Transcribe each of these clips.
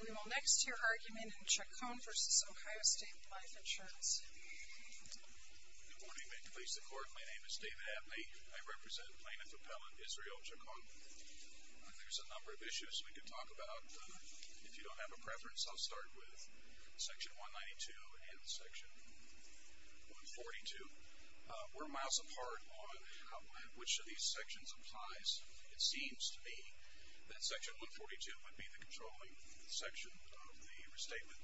We will next hear argument in Chacon v. Ohio State Life Insurance. Good morning. May it please the Court, my name is David Abney. I represent Plaintiff Appellant Israel Chacon. There's a number of issues we could talk about. If you don't have a preference, I'll start with Section 192 and Section 142. We're miles apart on which of these sections applies. It seems to me that Section 142 would be the controlling section of the restatement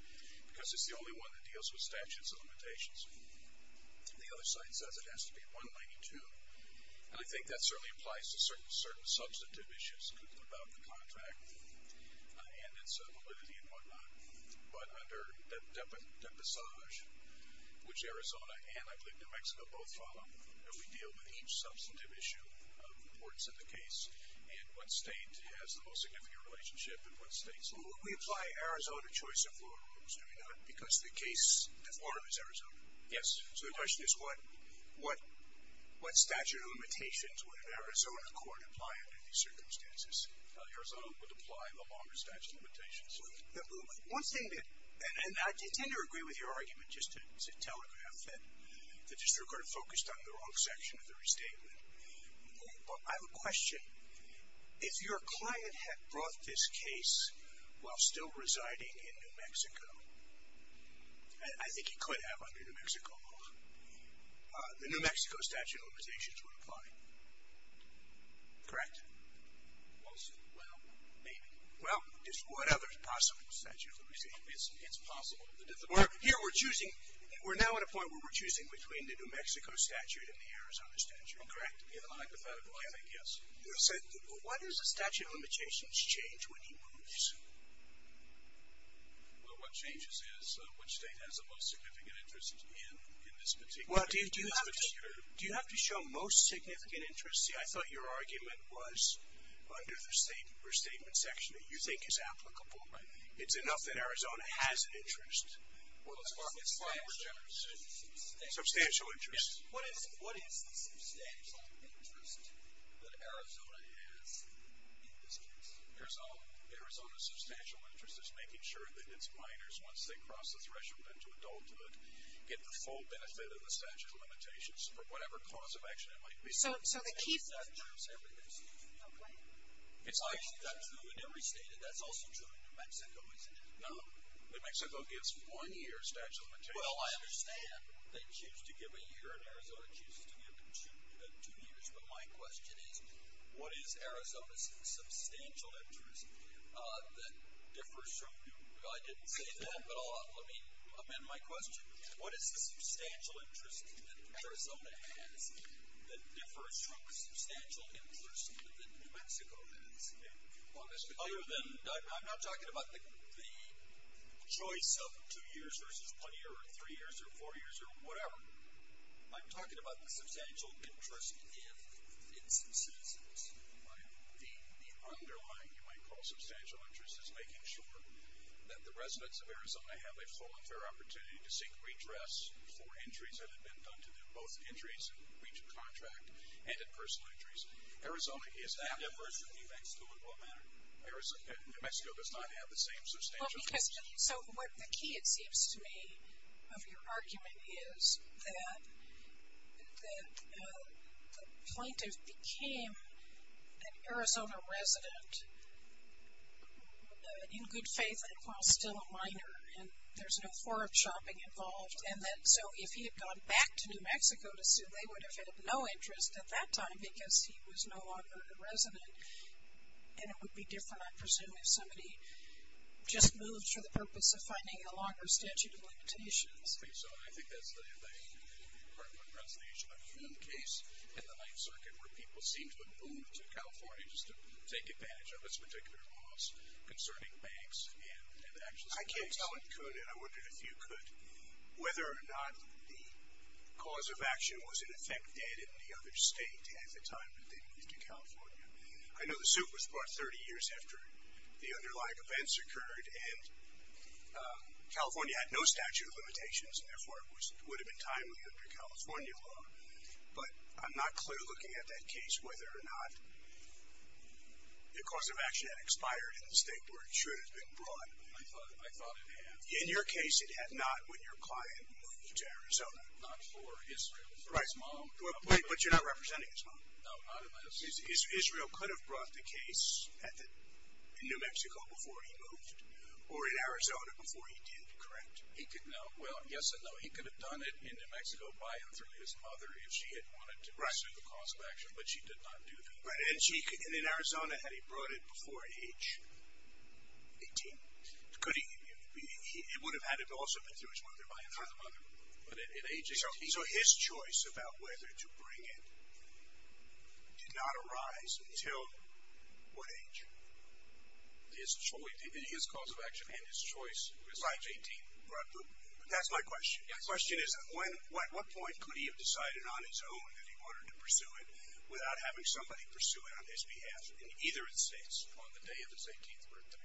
because it's the only one that deals with statutes and limitations. The other side says it has to be 192, and I think that certainly applies to certain substantive issues about the contract and its validity and whatnot. But under Depassage, which Arizona and I believe New Mexico both follow, we deal with each substantive issue of importance in the case and what state has the most significant relationship in what state. So would we apply Arizona choice of rules, do we not? Because the case deformed is Arizona. Yes. So the question is what statute of limitations would an Arizona court apply under these circumstances? Arizona would apply the longer statute of limitations. One thing that, and I tend to agree with your argument just to telegraph that the district court focused on the wrong section of the restatement, but I have a question. If your client had brought this case while still residing in New Mexico, and I think he could have under New Mexico law, the New Mexico statute of limitations would apply. Correct? Well, maybe. Well, what other possible statute of limitations? It's possible. Here we're choosing, we're now at a point where we're choosing between the New Mexico statute and the Arizona statute. Correct. Hypothetically, I think, yes. So what does a statute of limitations change when he moves? Well, what changes is which state has the most significant interest in this particular case. Do you have to show most significant interest? See, I thought your argument was under the restatement section that you think is applicable. It's enough that Arizona has an interest. Substantial interest. Substantial interest. What is the substantial interest that Arizona has in this case? Arizona's substantial interest is making sure that its minors, once they cross the threshold into adulthood, get the full benefit of the statute of limitations for whatever cause of action it might be. So the key thing is that every state has a statute of limitations. That's true in every state, and that's also true in New Mexico, isn't it? No. New Mexico gives one year statute of limitations. Well, I understand they choose to give a year, and Arizona chooses to give two years. But my question is, what is Arizona's substantial interest that differs from New Mexico? I didn't say that, but let me amend my question. What is the substantial interest that Arizona has that differs from the substantial interest that New Mexico has? I'm not talking about the choice of two years versus one year or three years or four years or whatever. I'm talking about the substantial interest in citizens. The underlying, you might call, substantial interest is making sure that the residents of Arizona have a full and fair opportunity to seek redress for injuries that have been done to them, both injuries in breach of contract and in personal injuries. Arizona is that diverse from New Mexico in what manner? New Mexico does not have the same substantial interest. So the key, it seems to me, of your argument is that the plaintiff became an Arizona resident in good faith and while still a minor. And there's no foreign shopping involved. So if he had gone back to New Mexico to sue, they would have had no interest at that time because he was no longer a resident. And it would be different, I presume, if somebody just moved for the purpose of finding a longer statute of limitations. I think so. And I think that's the part of the presentation I was going to do in the case in the Ninth Circuit where people seemed to have moved to California just to take advantage of its particular laws concerning banks and actual citizens. I can't tell if Conan, I wondered if you could, whether or not the cause of action was in effect dead in the other state at the time that they moved to California. I know the suit was brought 30 years after the underlying events occurred and California had no statute of limitations and therefore it would have been timely under California law. But I'm not clear looking at that case whether or not the cause of action expired in the state where it should have been brought. I thought it had. In your case, it had not when your client moved to Arizona. Not for Israel, for his mom. But you're not representing his mom. No, not unless. Israel could have brought the case in New Mexico before he moved or in Arizona before he did, correct? He could, no. Yes and no. He could have done it in New Mexico by and through his mother if she had wanted to pursue the cause of action, but she did not do that. And in Arizona, had he brought it before age 18, it would have also been through his mother by and through the mother. But at age 18. So his choice about whether to bring it did not arise until what age? His choice, his cause of action and his choice. That's my question. My question is at what point could he have decided on his own that he wanted to pursue it without having somebody pursue it on his behalf in either of the states? On the day of his 18th birthday.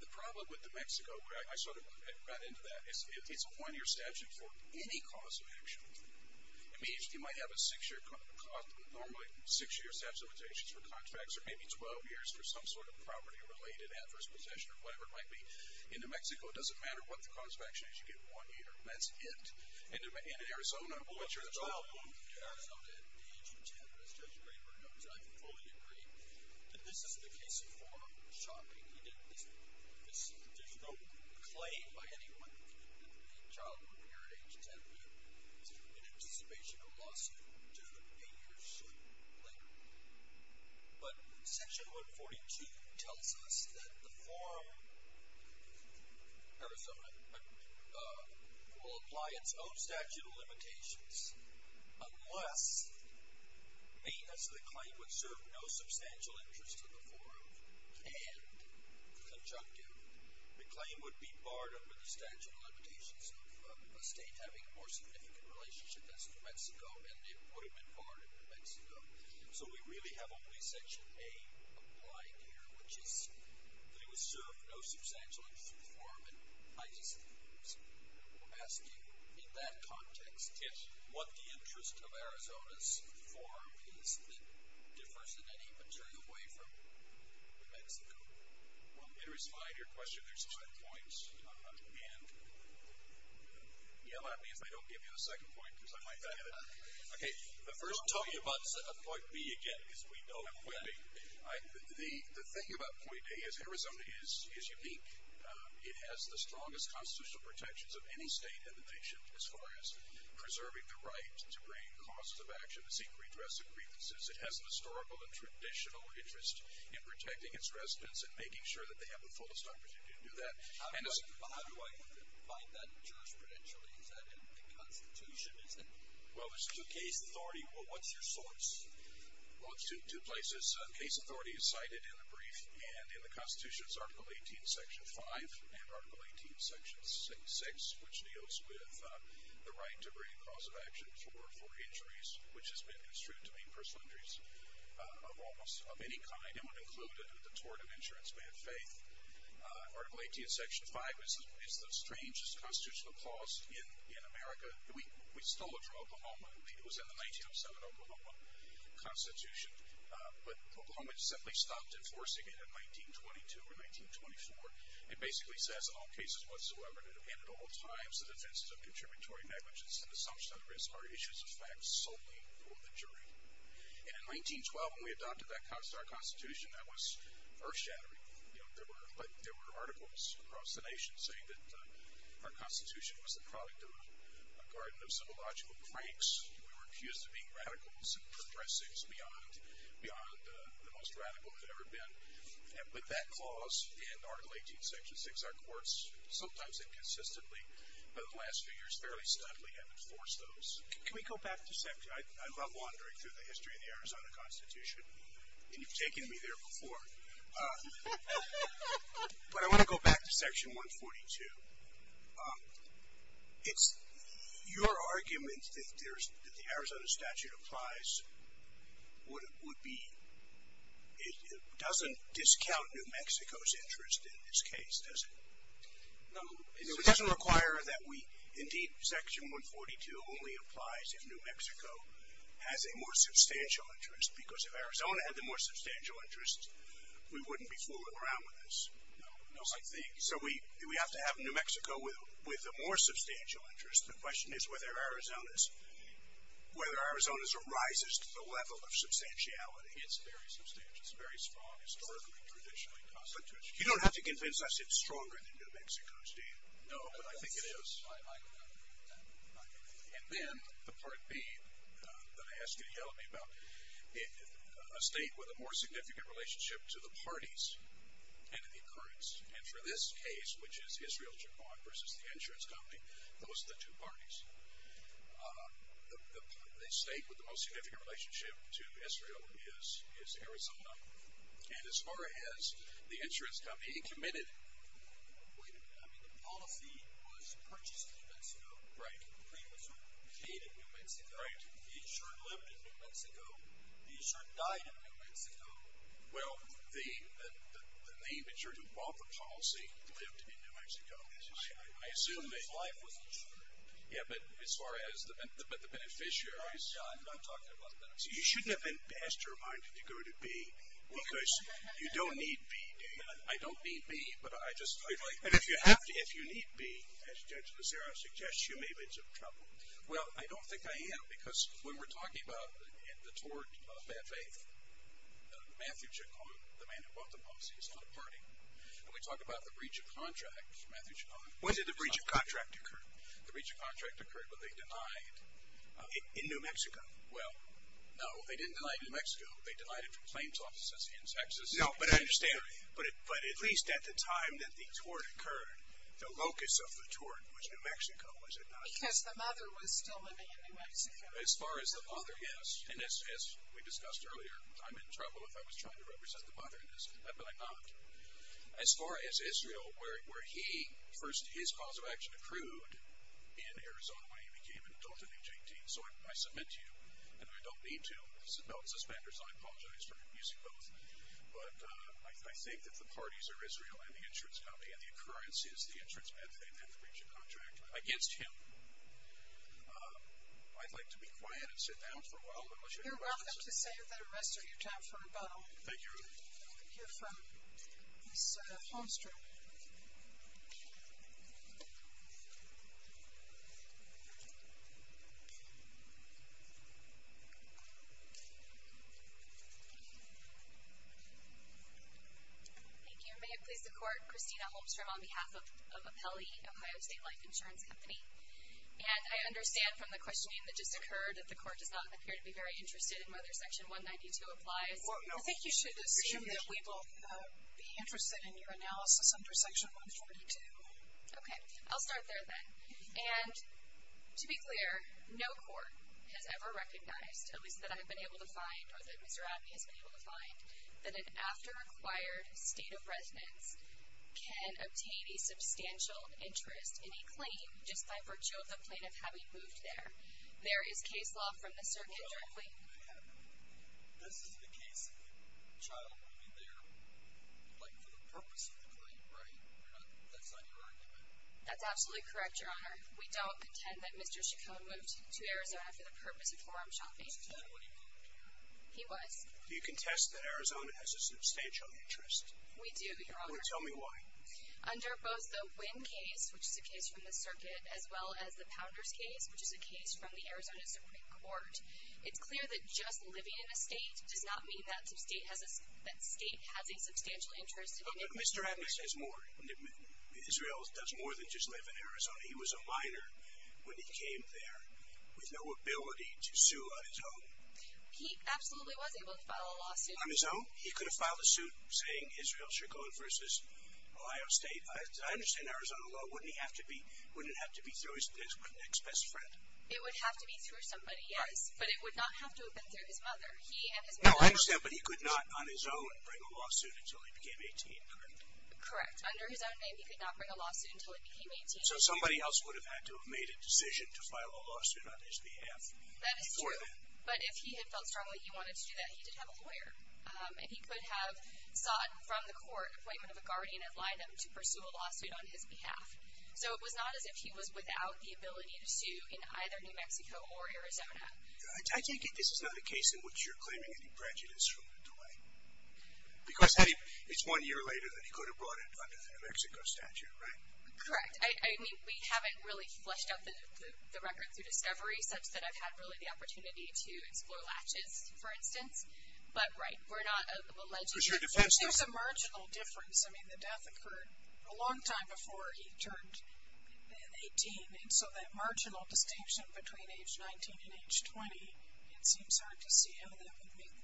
The problem with New Mexico, I sort of got into that, is it's a one-year statute for any cause of action. It means you might have a six-year, normally a six-year statute of limitations for contracts or maybe 12 years for some sort of property-related adverse possession or whatever it might be. In New Mexico, it doesn't matter what the cause of action is. You get one year. That's it. And in Arizona, what's your problem? In Arizona, at age 10, as Judge Graber knows, I fully agree that this is the case of formal shopping. He did this. There's no claim by anyone that the child would appear at age 10. It's an anticipation or lawsuit to eight years later. But Section 142 tells us that the forum, Arizona, will apply its own statute of limitations unless the claim would serve no substantial interest to the forum and, conjunctive, the claim would be barred under the statute of limitations of a state having a more significant relationship as New Mexico, and it would have been barred in New Mexico. So we really have only Section A applied here, which is that it would serve no substantial interest to the forum. And I just was asking, in that context, what the interest of Arizona's forum is that differs in any paternal way from New Mexico. Well, I'm interested in your question. There's two points. And that means I don't give you the second point because I might forget it. Okay. Don't tell me about point B again because we know that. Point B. The thing about point A is Arizona is unique. It has the strongest constitutional protections of any state in the nation as far as preserving the right to bring costs of action, to seek redress of grievances. It has an historical and traditional interest in protecting its residents and making sure that they have the fullest opportunity to do that. How do I find that jurisprudentially? Is that in the Constitution? Well, it's in the case authority. Well, what's your source? Well, it's in two places. Case authority is cited in the brief and in the Constitution's Article 18, Section 5, and Article 18, Section 6, which deals with the right to bring cost of action for injuries, which has been construed to mean personal injuries of almost any kind, and would include a tort of insurance by faith. Article 18, Section 5 is the strangest constitutional clause in America. We stole it from Oklahoma. It was in the 1907 Oklahoma Constitution, but Oklahoma simply stopped enforcing it in 1922 or 1924. It basically says, In all cases whatsoever to defend at all times the defenses of contributory negligence and assumption of risk are issues of fact solely for the jury. And in 1912, when we adopted our Constitution, that was earth shattering. There were articles across the nation saying that our Constitution was the product of a garden of symbological pranks. We were accused of being radicals and progressives beyond the most radical that had ever been. But that clause in Article 18, Section 6, our courts sometimes inconsistently, but in the last few years fairly steadily, have enforced those. Can we go back to section? I love wandering through the history of the Arizona Constitution, and you've taken me there before. But I want to go back to Section 142. It's your argument that the Arizona statute applies would be, it doesn't discount New Mexico's interest in this case, does it? No. It doesn't require that we, indeed, Section 142 only applies if New Mexico has a more substantial interest, because if Arizona had the more substantial interest, we wouldn't be fooling around with this. No. So we have to have New Mexico with a more substantial interest. The question is whether Arizona's arises to the level of substantiality. It's very substantial. It's very strong historically, traditionally, constitutionally. You don't have to convince us it's stronger than New Mexico's, do you? No, but I think it is. And then the part B that I asked you to tell me about, a state with a more significant relationship to the parties and to the occurrence. And for this case, which is Israel-Japan versus the insurance company, those are the two parties. The state with the most significant relationship to Israel is Arizona. And as far as the insurance company committed, wait a minute, I mean the policy was purchased in New Mexico. Right. The premium was paid in New Mexico. Right. The insured lived in New Mexico. The insured died in New Mexico. Well, the insured who bought the policy lived in New Mexico. I assume that. But his life was insured. Yeah, but as far as the beneficiaries. I'm not talking about the beneficiaries. You shouldn't have been pastor minded to go to B because you don't need B, do you? I don't need B, but I just feel like. And if you need B, as Judge Lozera suggests to you, maybe it's a trouble. Well, I don't think I am because when we're talking about the tort of bad faith, Matthew Chacon, the man who bought the policy, is not a party. When we talk about the breach of contract, Matthew Chacon. When did the breach of contract occur? The breach of contract occurred when they denied. In New Mexico? Well, no, they didn't deny New Mexico. They denied it from claims offices in Texas. No, but I understand. But at least at the time that the tort occurred, the locus of the tort was New Mexico, was it not? Because the mother was still living in New Mexico. As far as the mother is, and as we discussed earlier, I'm in trouble if I was trying to represent the mother in this, but I'm not. As far as Israel, where he, first his cause of action accrued in Arizona when he became an adult at age 18, so I submit to you, and I don't need to, no suspenders, I apologize for abusing both, but I think that the parties are Israel and the insurance company, and the occurrence is the insurance bad faith and the breach of contract. Against him. I'd like to be quiet and sit down for a while. You're welcome to say that the rest of your time for rebuttal. Thank you. I'm going to hear from Ms. Holmstrom. Thank you. May it please the court, Christina Holmstrom on behalf of Apelli, Ohio State Life Insurance Company. And I understand from the questioning that just occurred that the court does not appear to be very interested in whether Section 192 applies. I think you should assume that we will be interested in your analysis under Section 192. Okay. I'll start there then. And to be clear, no court has ever recognized, at least that I've been able to find or that Mr. Abney has been able to find, that an after acquired state of residence can obtain a substantial interest in a claim just by virtue of the plaintiff having moved there. There is case law from the circuit directly. This is the case of a child moving there, like for the purpose of the claim, right? That's not your argument. That's absolutely correct, Your Honor. We don't contend that Mr. Chacon moved to Arizona for the purpose of forum shopping. He was. Do you contest that Arizona has a substantial interest? We do, Your Honor. Tell me why. Under both the Wynn case, which is a case from the circuit, as well as the Pounders case, which is a case from the Arizona Supreme Court, it's clear that just living in a state does not mean that state has a substantial interest in it. But Mr. Abney says more. Israel does more than just live in Arizona. He was a minor when he came there with no ability to sue on his own. He absolutely was able to file a lawsuit. On his own? He could have filed a suit saying Israel Chacon v. Ohio State. I understand Arizona law, wouldn't it have to be through his next best friend? It would have to be through somebody, yes. But it would not have to have been through his mother. No, I understand. But he could not, on his own, bring a lawsuit until he became 18, correct? Correct. Under his own name, he could not bring a lawsuit until he became 18. So somebody else would have had to have made a decision to file a lawsuit on his behalf before then. But if he had felt strongly he wanted to do that, he did have a lawyer. And he could have sought from the court an appointment of a guardian at Linum to pursue a lawsuit on his behalf. So it was not as if he was without the ability to sue in either New Mexico or Arizona. I take it this is not a case in which you're claiming any prejudice from DeWayne. Because it's one year later than he could have brought it under the New Mexico statute, right? Correct. I mean, we haven't really fleshed out the record through discovery such that I've had really the opportunity to explore latches, for instance. But, right. We're not alleging. There's a marginal difference. I mean, the death occurred a long time before he turned 18. And so that marginal distinction between age 19 and age 20, it seems hard to see how that would make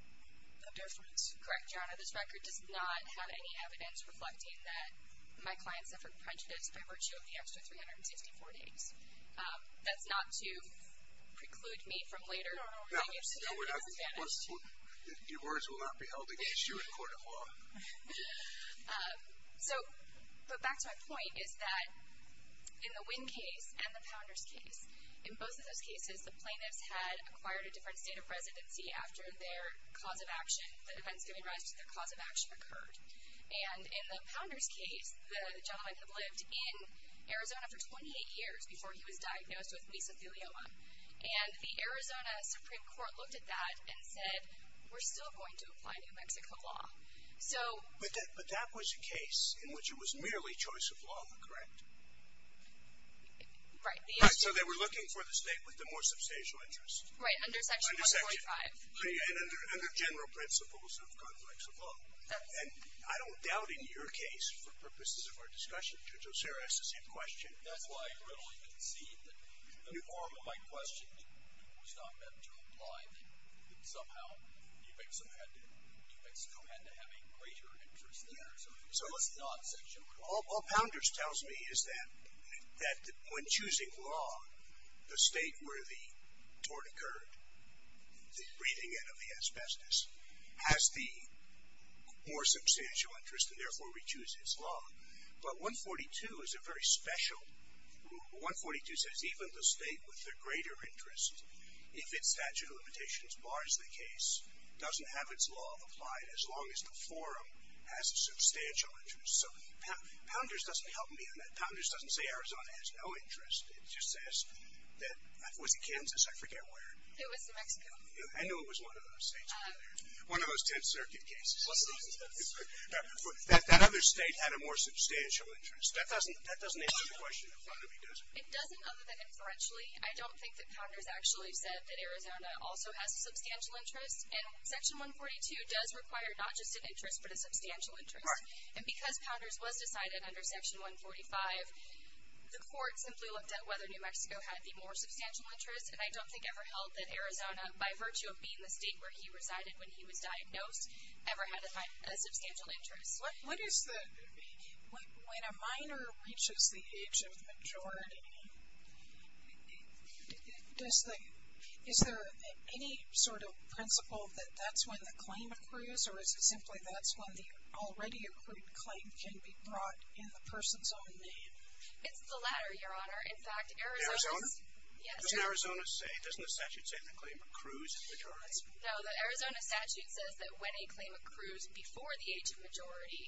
a difference. Correct, Your Honor. This record does not have any evidence reflecting that my client suffered prejudice by virtue of the extra 354 days. That's not to preclude me from later. No, no, no. Your words will not be held against you in court of law. So, but back to my point is that in the Wynn case and the Pounders case, in both of those cases, the plaintiffs had acquired a different state of residency after their cause of action, the defense giving rise to their cause of action occurred. And in the Pounders case, the gentleman had lived in Arizona for 28 years before he was diagnosed with mesothelioma. And the Arizona Supreme Court looked at that and said, we're still going to apply New Mexico law. So. But that was a case in which it was merely choice of law, correct? Right. So they were looking for the state with the more substantial interest. Right, under section 145. And under general principles of complex law. And I don't doubt in your case, for purposes of our discussion, Judge Osiris is in question. That's why I readily concede that the form of my question was not meant to imply that somehow New Mexico had to have a greater interest in Arizona. It was not section 145. All Pounders tells me is that when choosing law, the state where the tort occurred, the breathing in of the asbestos, has the more substantial interest and therefore re-chooses law. But 142 is a very special rule. 142 says even the state with the greater interest, if its statute of limitations bars the case, doesn't have its law applied as long as the forum has a substantial interest. So Pounders doesn't help me on that. Pounders doesn't say Arizona has no interest. It just says that, was it Kansas? I forget where. It was New Mexico. I knew it was one of those states. One of those 10th Circuit cases. But if that other state had a more substantial interest, that doesn't answer the question in front of me, does it? It doesn't other than inferentially. I don't think that Pounders actually said that Arizona also has a substantial interest. And section 142 does require not just an interest but a substantial interest. And because Pounders was decided under section 145, the court simply looked at whether New Mexico had the more substantial interest, and I don't think ever held that Arizona, by virtue of being the state where he resided when he was diagnosed, ever had a substantial interest. What is the, when a minor reaches the age of majority, does the, is there any sort of principle that that's when the claim accrues? Or is it simply that's when the already accrued claim can be brought in the person's own name? It's the latter, Your Honor. In fact, Arizona. Arizona? Yes. Doesn't Arizona say, doesn't the statute say the claim accrues in majority? No, the Arizona statute says that when a claim accrues before the age of majority,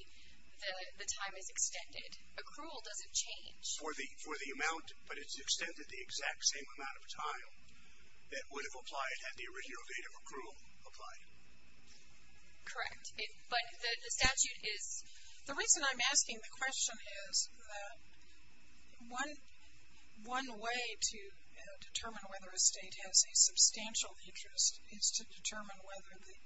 the time is extended. Accrual doesn't change. For the amount, but it's extended the exact same amount of time that would have applied had the original date of accrual applied. Correct. But the statute is. The reason I'm asking the question is that one way to determine whether a state has a substantial interest is to determine whether the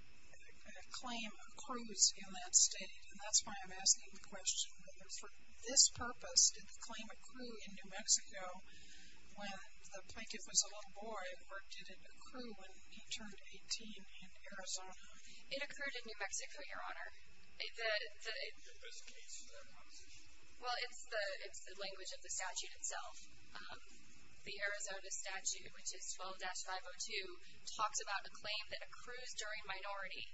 claim accrues in that state. And that's why I'm asking the question whether for this purpose, did the claim accrue in New Mexico when the plaintiff was a little boy or did it accrue when he turned 18 in Arizona? It accrued in New Mexico, Your Honor. In this case, then? Well, it's the language of the statute itself. The Arizona statute, which is 12-502, talks about a claim that accrues during minority,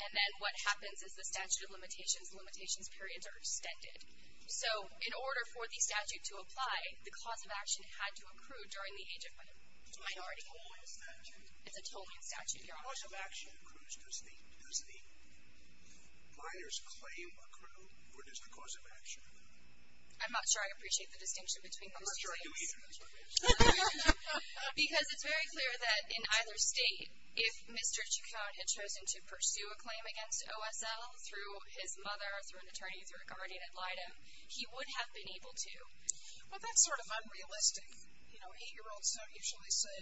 and then what happens is the statute of limitations, limitations periods are extended. So in order for the statute to apply, the cause of action had to accrue during the age of minority. It's a totaling statute? It's a totaling statute, Your Honor. The cause of action accrues, does the minor's claim accrue, or does the cause of action? I'm not sure I appreciate the distinction between those two. Because it's very clear that in either state, if Mr. Chacon had chosen to pursue a claim against OSL through his mother, through an attorney, through a guardian ad litem, he would have been able to. Well, that's sort of unrealistic. Eight-year-olds don't usually say,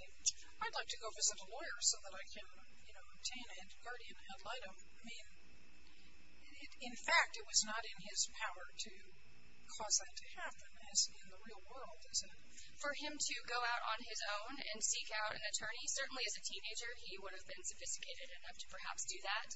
I'd like to go visit a lawyer so that I can obtain a guardian ad litem. In fact, it was not in his power to cause that to happen, as in the real world, is it? For him to go out on his own and seek out an attorney, certainly as a teenager he would have been sophisticated enough to perhaps do that.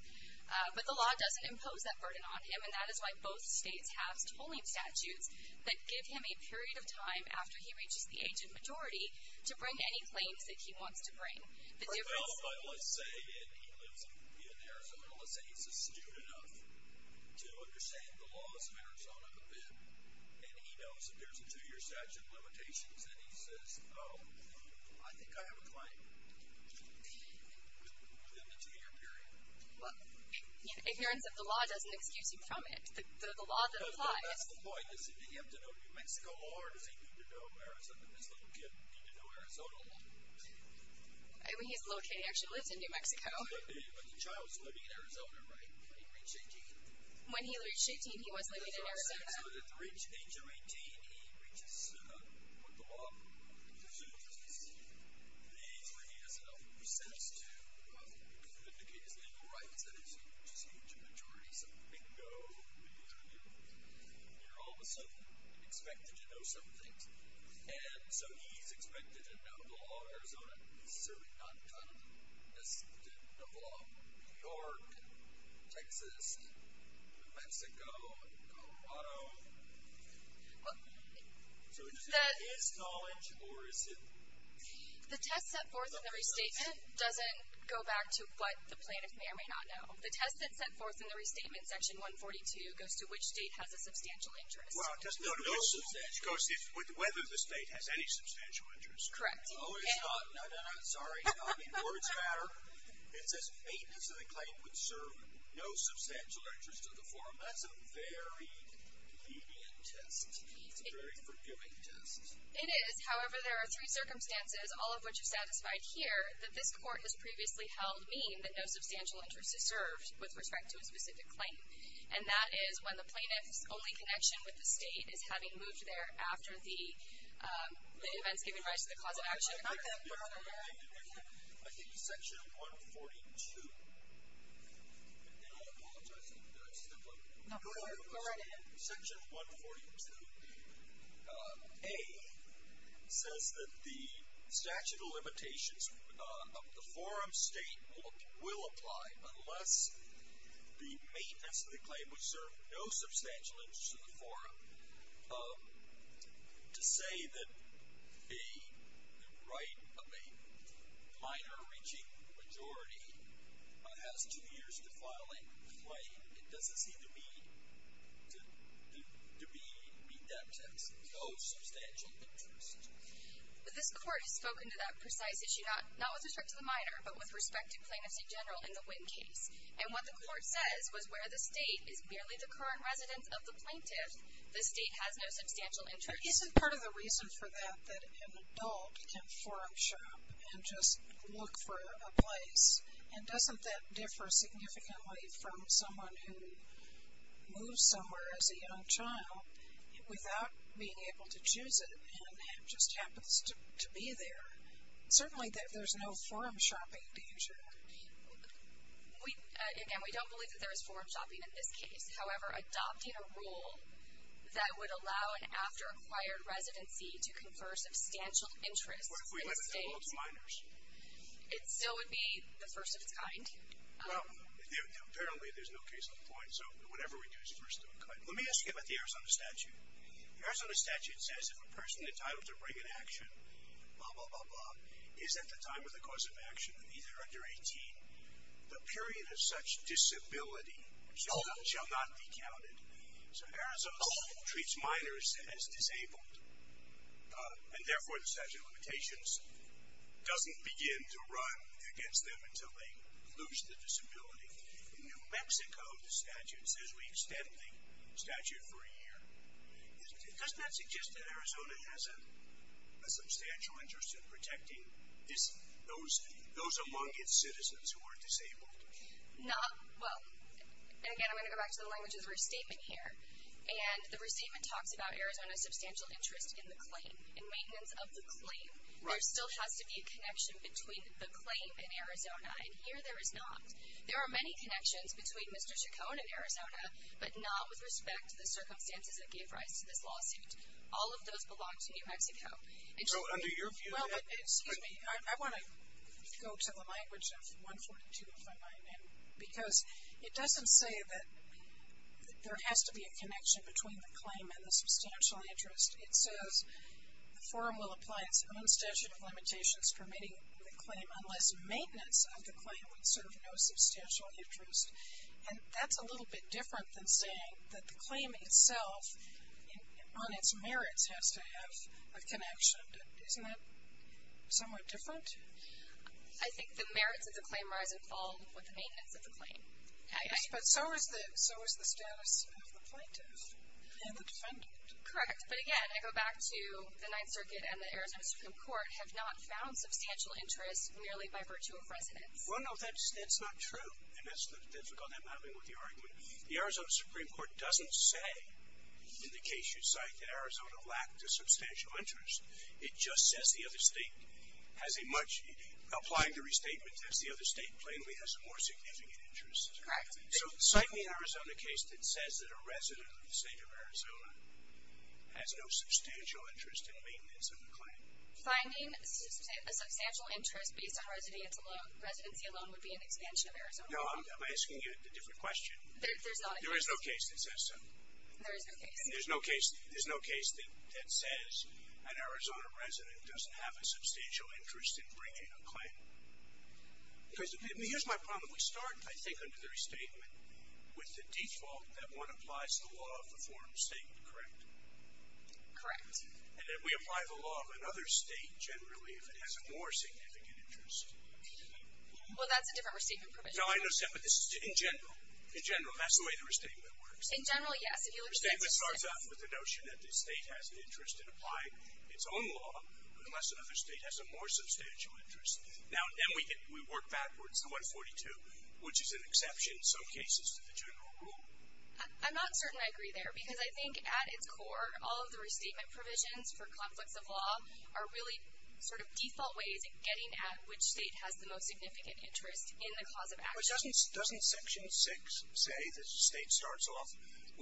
But the law doesn't impose that burden on him, and that is why both states have tolling statutes that give him a period of time after he reaches the age of majority to bring any claims that he wants to bring. Well, let's say he lives in Arizona. Let's say he's astute enough to understand the laws of Arizona a bit, and he knows that there's a two-year statute of limitations, and he says, oh, I think I have a claim within the two-year period. Ignorance of the law doesn't excuse you from it. The law that applies. That's the point. Does he need to know New Mexico, or does he need to know Arizona? I mean, he's located and actually lives in New Mexico. But the child's living in Arizona, right, when he reached 18? When he reached 18, he was living in Arizona. So at the age of 18, he reaches what the law assumes is his age, where he has enough recess to vindicate his legal rights, that is, he reaches the age of majority. So bingo, you're all of a sudden expected to know some things. And so he's expected to know the law of Arizona, and he's certainly not going to know the law of New York and Texas and New Mexico and Colorado. So is it his knowledge, or is it? The test set forth in the restatement doesn't go back to what the plaintiff may or may not know. The test that's set forth in the restatement, Section 142, goes to which state has a substantial interest. Well, it doesn't go to whether the state has any substantial interest. Correct. Oh, it's not. I'm sorry. I mean, words matter. It says 80% of the claim would serve no substantial interest of the form. That's a very lenient test. It's a very forgiving test. It is. However, there are three circumstances, all of which are satisfied here, that this court has previously held mean that no substantial interest is served with respect to a specific claim. And that is when the plaintiff's only connection with the state is having moved there after the event has given rise to the cause of action. I think Section 142, and then I apologize. No, go right ahead. Section 142A says that the statute of limitations of the forum state will apply unless the maintenance of the claim would serve no substantial interest of the forum. To say that the right of a minor-reaching majority has two years to file a claim, it doesn't seem to me to mean that it has no substantial interest. This court has spoken to that precise issue, not with respect to the minor, but with respect to Plaintiff's Attorney General in the Wynn case. And what the court says was where the state is merely the current residence of the plaintiff, the state has no substantial interest. Isn't part of the reason for that that an adult can forum shop and just look for a place? And doesn't that differ significantly from someone who moves somewhere as a young child without being able to choose it and just happens to be there? Certainly there's no forum shopping to use here. Again, we don't believe that there is forum shopping in this case. However, adopting a rule that would allow an after-acquired residency to confer substantial interest in the state. What if we let it go to minors? It still would be the first of its kind. Well, apparently there's no case on the point, so whatever we do is first of its kind. Let me ask you about the Arizona statute. The Arizona statute says if a person entitled to bring an action, blah, blah, blah, blah, is at the time of the cause of action, either under 18, the period of such disability shall not be counted. So Arizona treats minors as disabled, and therefore the statute of limitations doesn't begin to run against them until they lose the disability. In New Mexico, the statute says we extend the statute for a year. Doesn't that suggest that Arizona has a substantial interest in protecting those among its citizens who are disabled? Well, again, I'm going to go back to the language of the restatement here, and the restatement talks about Arizona's substantial interest in the claim, in maintenance of the claim. There still has to be a connection between the claim and Arizona, and here there is not. There are many connections between Mr. Chacon and Arizona, but not with respect to the circumstances that gave rise to this lawsuit. All of those belong to New Mexico. So under your view, you have to agree. Excuse me. I want to go to the language of 142 if I might, because it doesn't say that there has to be a connection between the claim and the substantial interest. It says the forum will apply its own statute of limitations permitting the claim unless maintenance of the claim would serve no substantial interest, and that's a little bit different than saying that the claim itself on its merits has to have a connection. Isn't that somewhat different? I think the merits of the claim rise and fall with the maintenance of the claim. Yes, but so is the status of the plaintiff and the defendant. Correct, but again, I go back to the Ninth Circuit and the Arizona Supreme Court have not found substantial interest merely by virtue of residence. Well, no, that's not true. And that's the difficulty I'm having with the argument. The Arizona Supreme Court doesn't say in the case you cite that Arizona lacked a substantial interest. It just says the other state has a much ñ applying the restatement says the other state plainly has more significant interest. Correct. So cite me an Arizona case that says that a resident of the state of Arizona has no substantial interest in maintenance of the claim. Finding a substantial interest based on residency alone would be an expansion of Arizona law. No, I'm asking a different question. There's not a case. There is no case that says so. There is no case. There's no case that says an Arizona resident doesn't have a substantial interest in bringing a claim. Here's my problem. We start, I think, under the restatement with the default that one applies the law of the form of statement, correct? Correct. And then we apply the law of another state generally if it has a more significant interest. Well, that's a different restatement provision. No, I understand, but this is in general. In general, that's the way the restatement works. In general, yes. Restatement starts off with the notion that the state has an interest in applying its own law unless another state has a more substantial interest. Now, then we work backwards to 142, which is an exception in some cases to the general rule. I'm not certain I agree there because I think at its core, all of the restatement provisions for conflicts of law are really sort of default ways of getting at which state has the most significant interest in the cause of action. But doesn't Section 6 say that the state starts off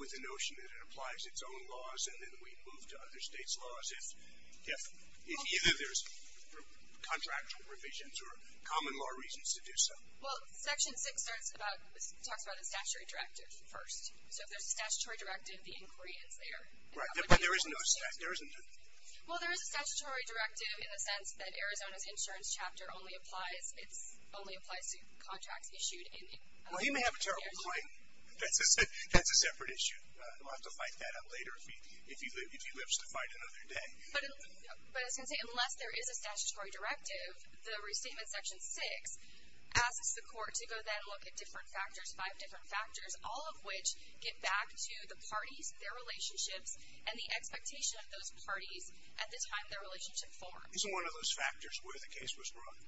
with the notion that it applies its own laws and then we move to other states' laws if either there's contractual revisions or common law reasons to do so? Well, Section 6 talks about a statutory directive first. So if there's a statutory directive, the inquiry ends there. Right, but there is no statute. Well, there is a statutory directive in the sense that Arizona's insurance chapter only applies to contracts issued in the area. Well, he may have a terrible point. That's a separate issue. We'll have to fight that out later if he lives to fight another day. But as I was going to say, unless there is a statutory directive, the restatement in Section 6 asks the court to go then look at different factors, five different factors, all of which get back to the parties, their relationships, and the expectation of those parties at the time their relationship forms. Isn't one of those factors where the case was brought?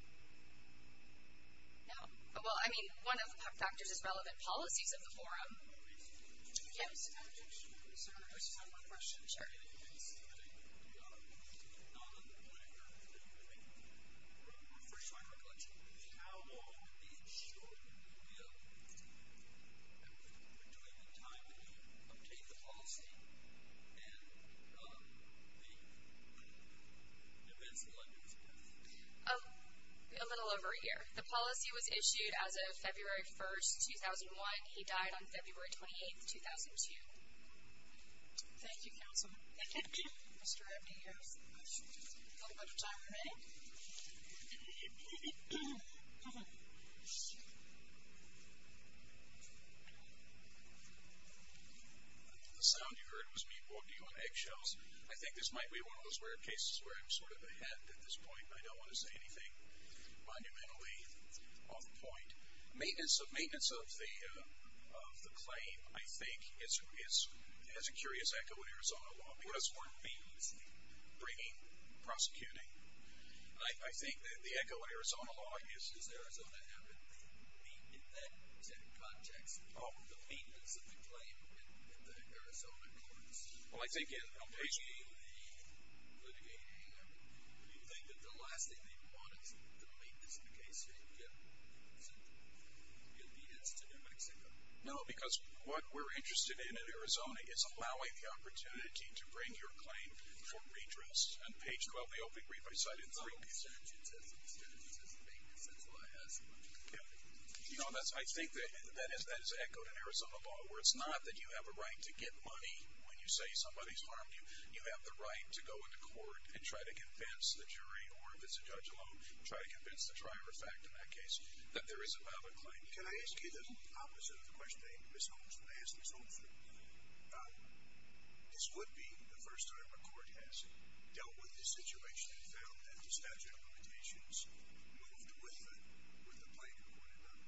No. Well, I mean, one of the factors is relevant policies of the forum. Yes. A little over a year. The policy was issued as of February 1, 2001. He died on February 28, 2002. Thank you, counsel. Thank you. Mr. Abney, you have a little bit of time remaining. The sound you heard was me walking on eggshells. I think this might be one of those rare cases where I'm sort of ahead at this point. I don't want to say anything monumentally off the point. Maintenance of the claim, I think, has a curious echo in Arizona law. What does the word maintenance mean? Bringing, prosecuting. I think the echo in Arizona law is... Does Arizona have, in that context, the maintenance of the claim in the Arizona courts? Well, I think in a reasonable way. Do you think that the last thing they would want is the maintenance in the case to get the obedience to New Mexico? No, because what we're interested in in Arizona is allowing the opportunity to bring your claim for redress. On page 12 of the opening brief, I cited three... No, the statute says maintenance. That's why I asked. You know, I think that has echoed in Arizona law, where it's not that you have a right to get money when you say somebody's harmed you. You have the right to go into court and try to convince the jury, or if it's a judge alone, try to convince the trier of fact in that case that there is a valid claim. Can I ask you the opposite of the question that I asked Ms. Holford? This would be the first time a court has dealt with this situation and found that the statute of limitations moved with the plaintiff, would it not?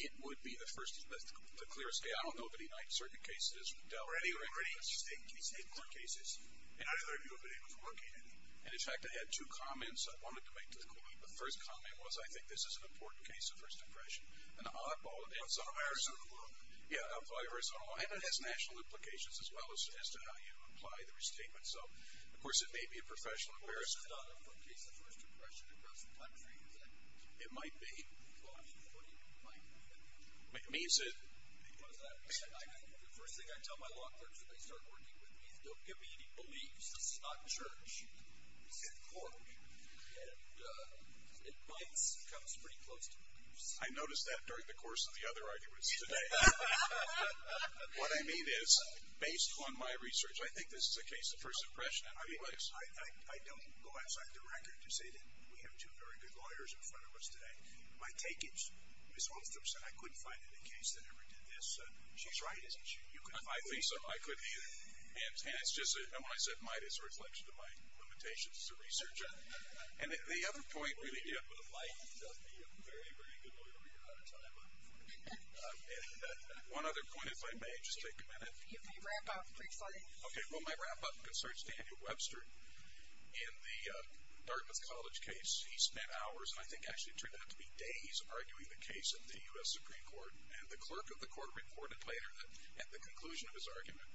It would be the first, to clear a scale, I don't know of any certain cases... Or any state court cases that either of you have been able to work in. And, in fact, I had two comments I wanted to make to the court. The first comment was I think this is an important case of First Depression. An oddball in Arizona law. And it has national implications as well as to how you apply the restatement. So, of course, it may be a professional embarrassment. Well, this is not a case of First Depression across the country, is it? It might be. Well, I mean, what do you mean might be? It means that... Because the first thing I tell my law clerks when they start working with me is don't give me any beliefs. This is not church. This is a court. And it comes pretty close to beliefs. I noticed that during the course of the other arguments today. What I mean is, based on my research, I think this is a case of First Depression. I don't go outside the record to say that we have two very good lawyers in front of us today. My take is Ms. Wolfstrom said I couldn't find any case that ever did this. She's right, isn't she? I think so. I couldn't either. And when I said might, it's a reflection of my limitations as a researcher. And the other point really is... One other point, if I may. Just take a minute. You can wrap up. Okay. Well, my wrap-up concerns Daniel Webster. In the Dartmouth College case, he spent hours, and I think actually it turned out to be days, arguing the case in the U.S. Supreme Court. And the clerk of the court reported later that at the conclusion of his argument,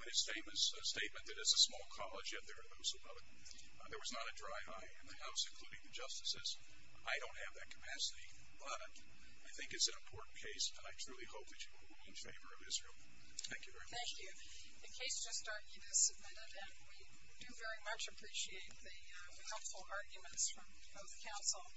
when his statement that it's a small college, yet there are those above it, there was not a dry eye in the House, including the justices. I don't have that capacity, but I think it's an important case, and I truly hope that you will rule in favor of Israel. Thank you very much. Thank you. The case just argued is submitted, and we do very much appreciate the helpful arguments from both counsel.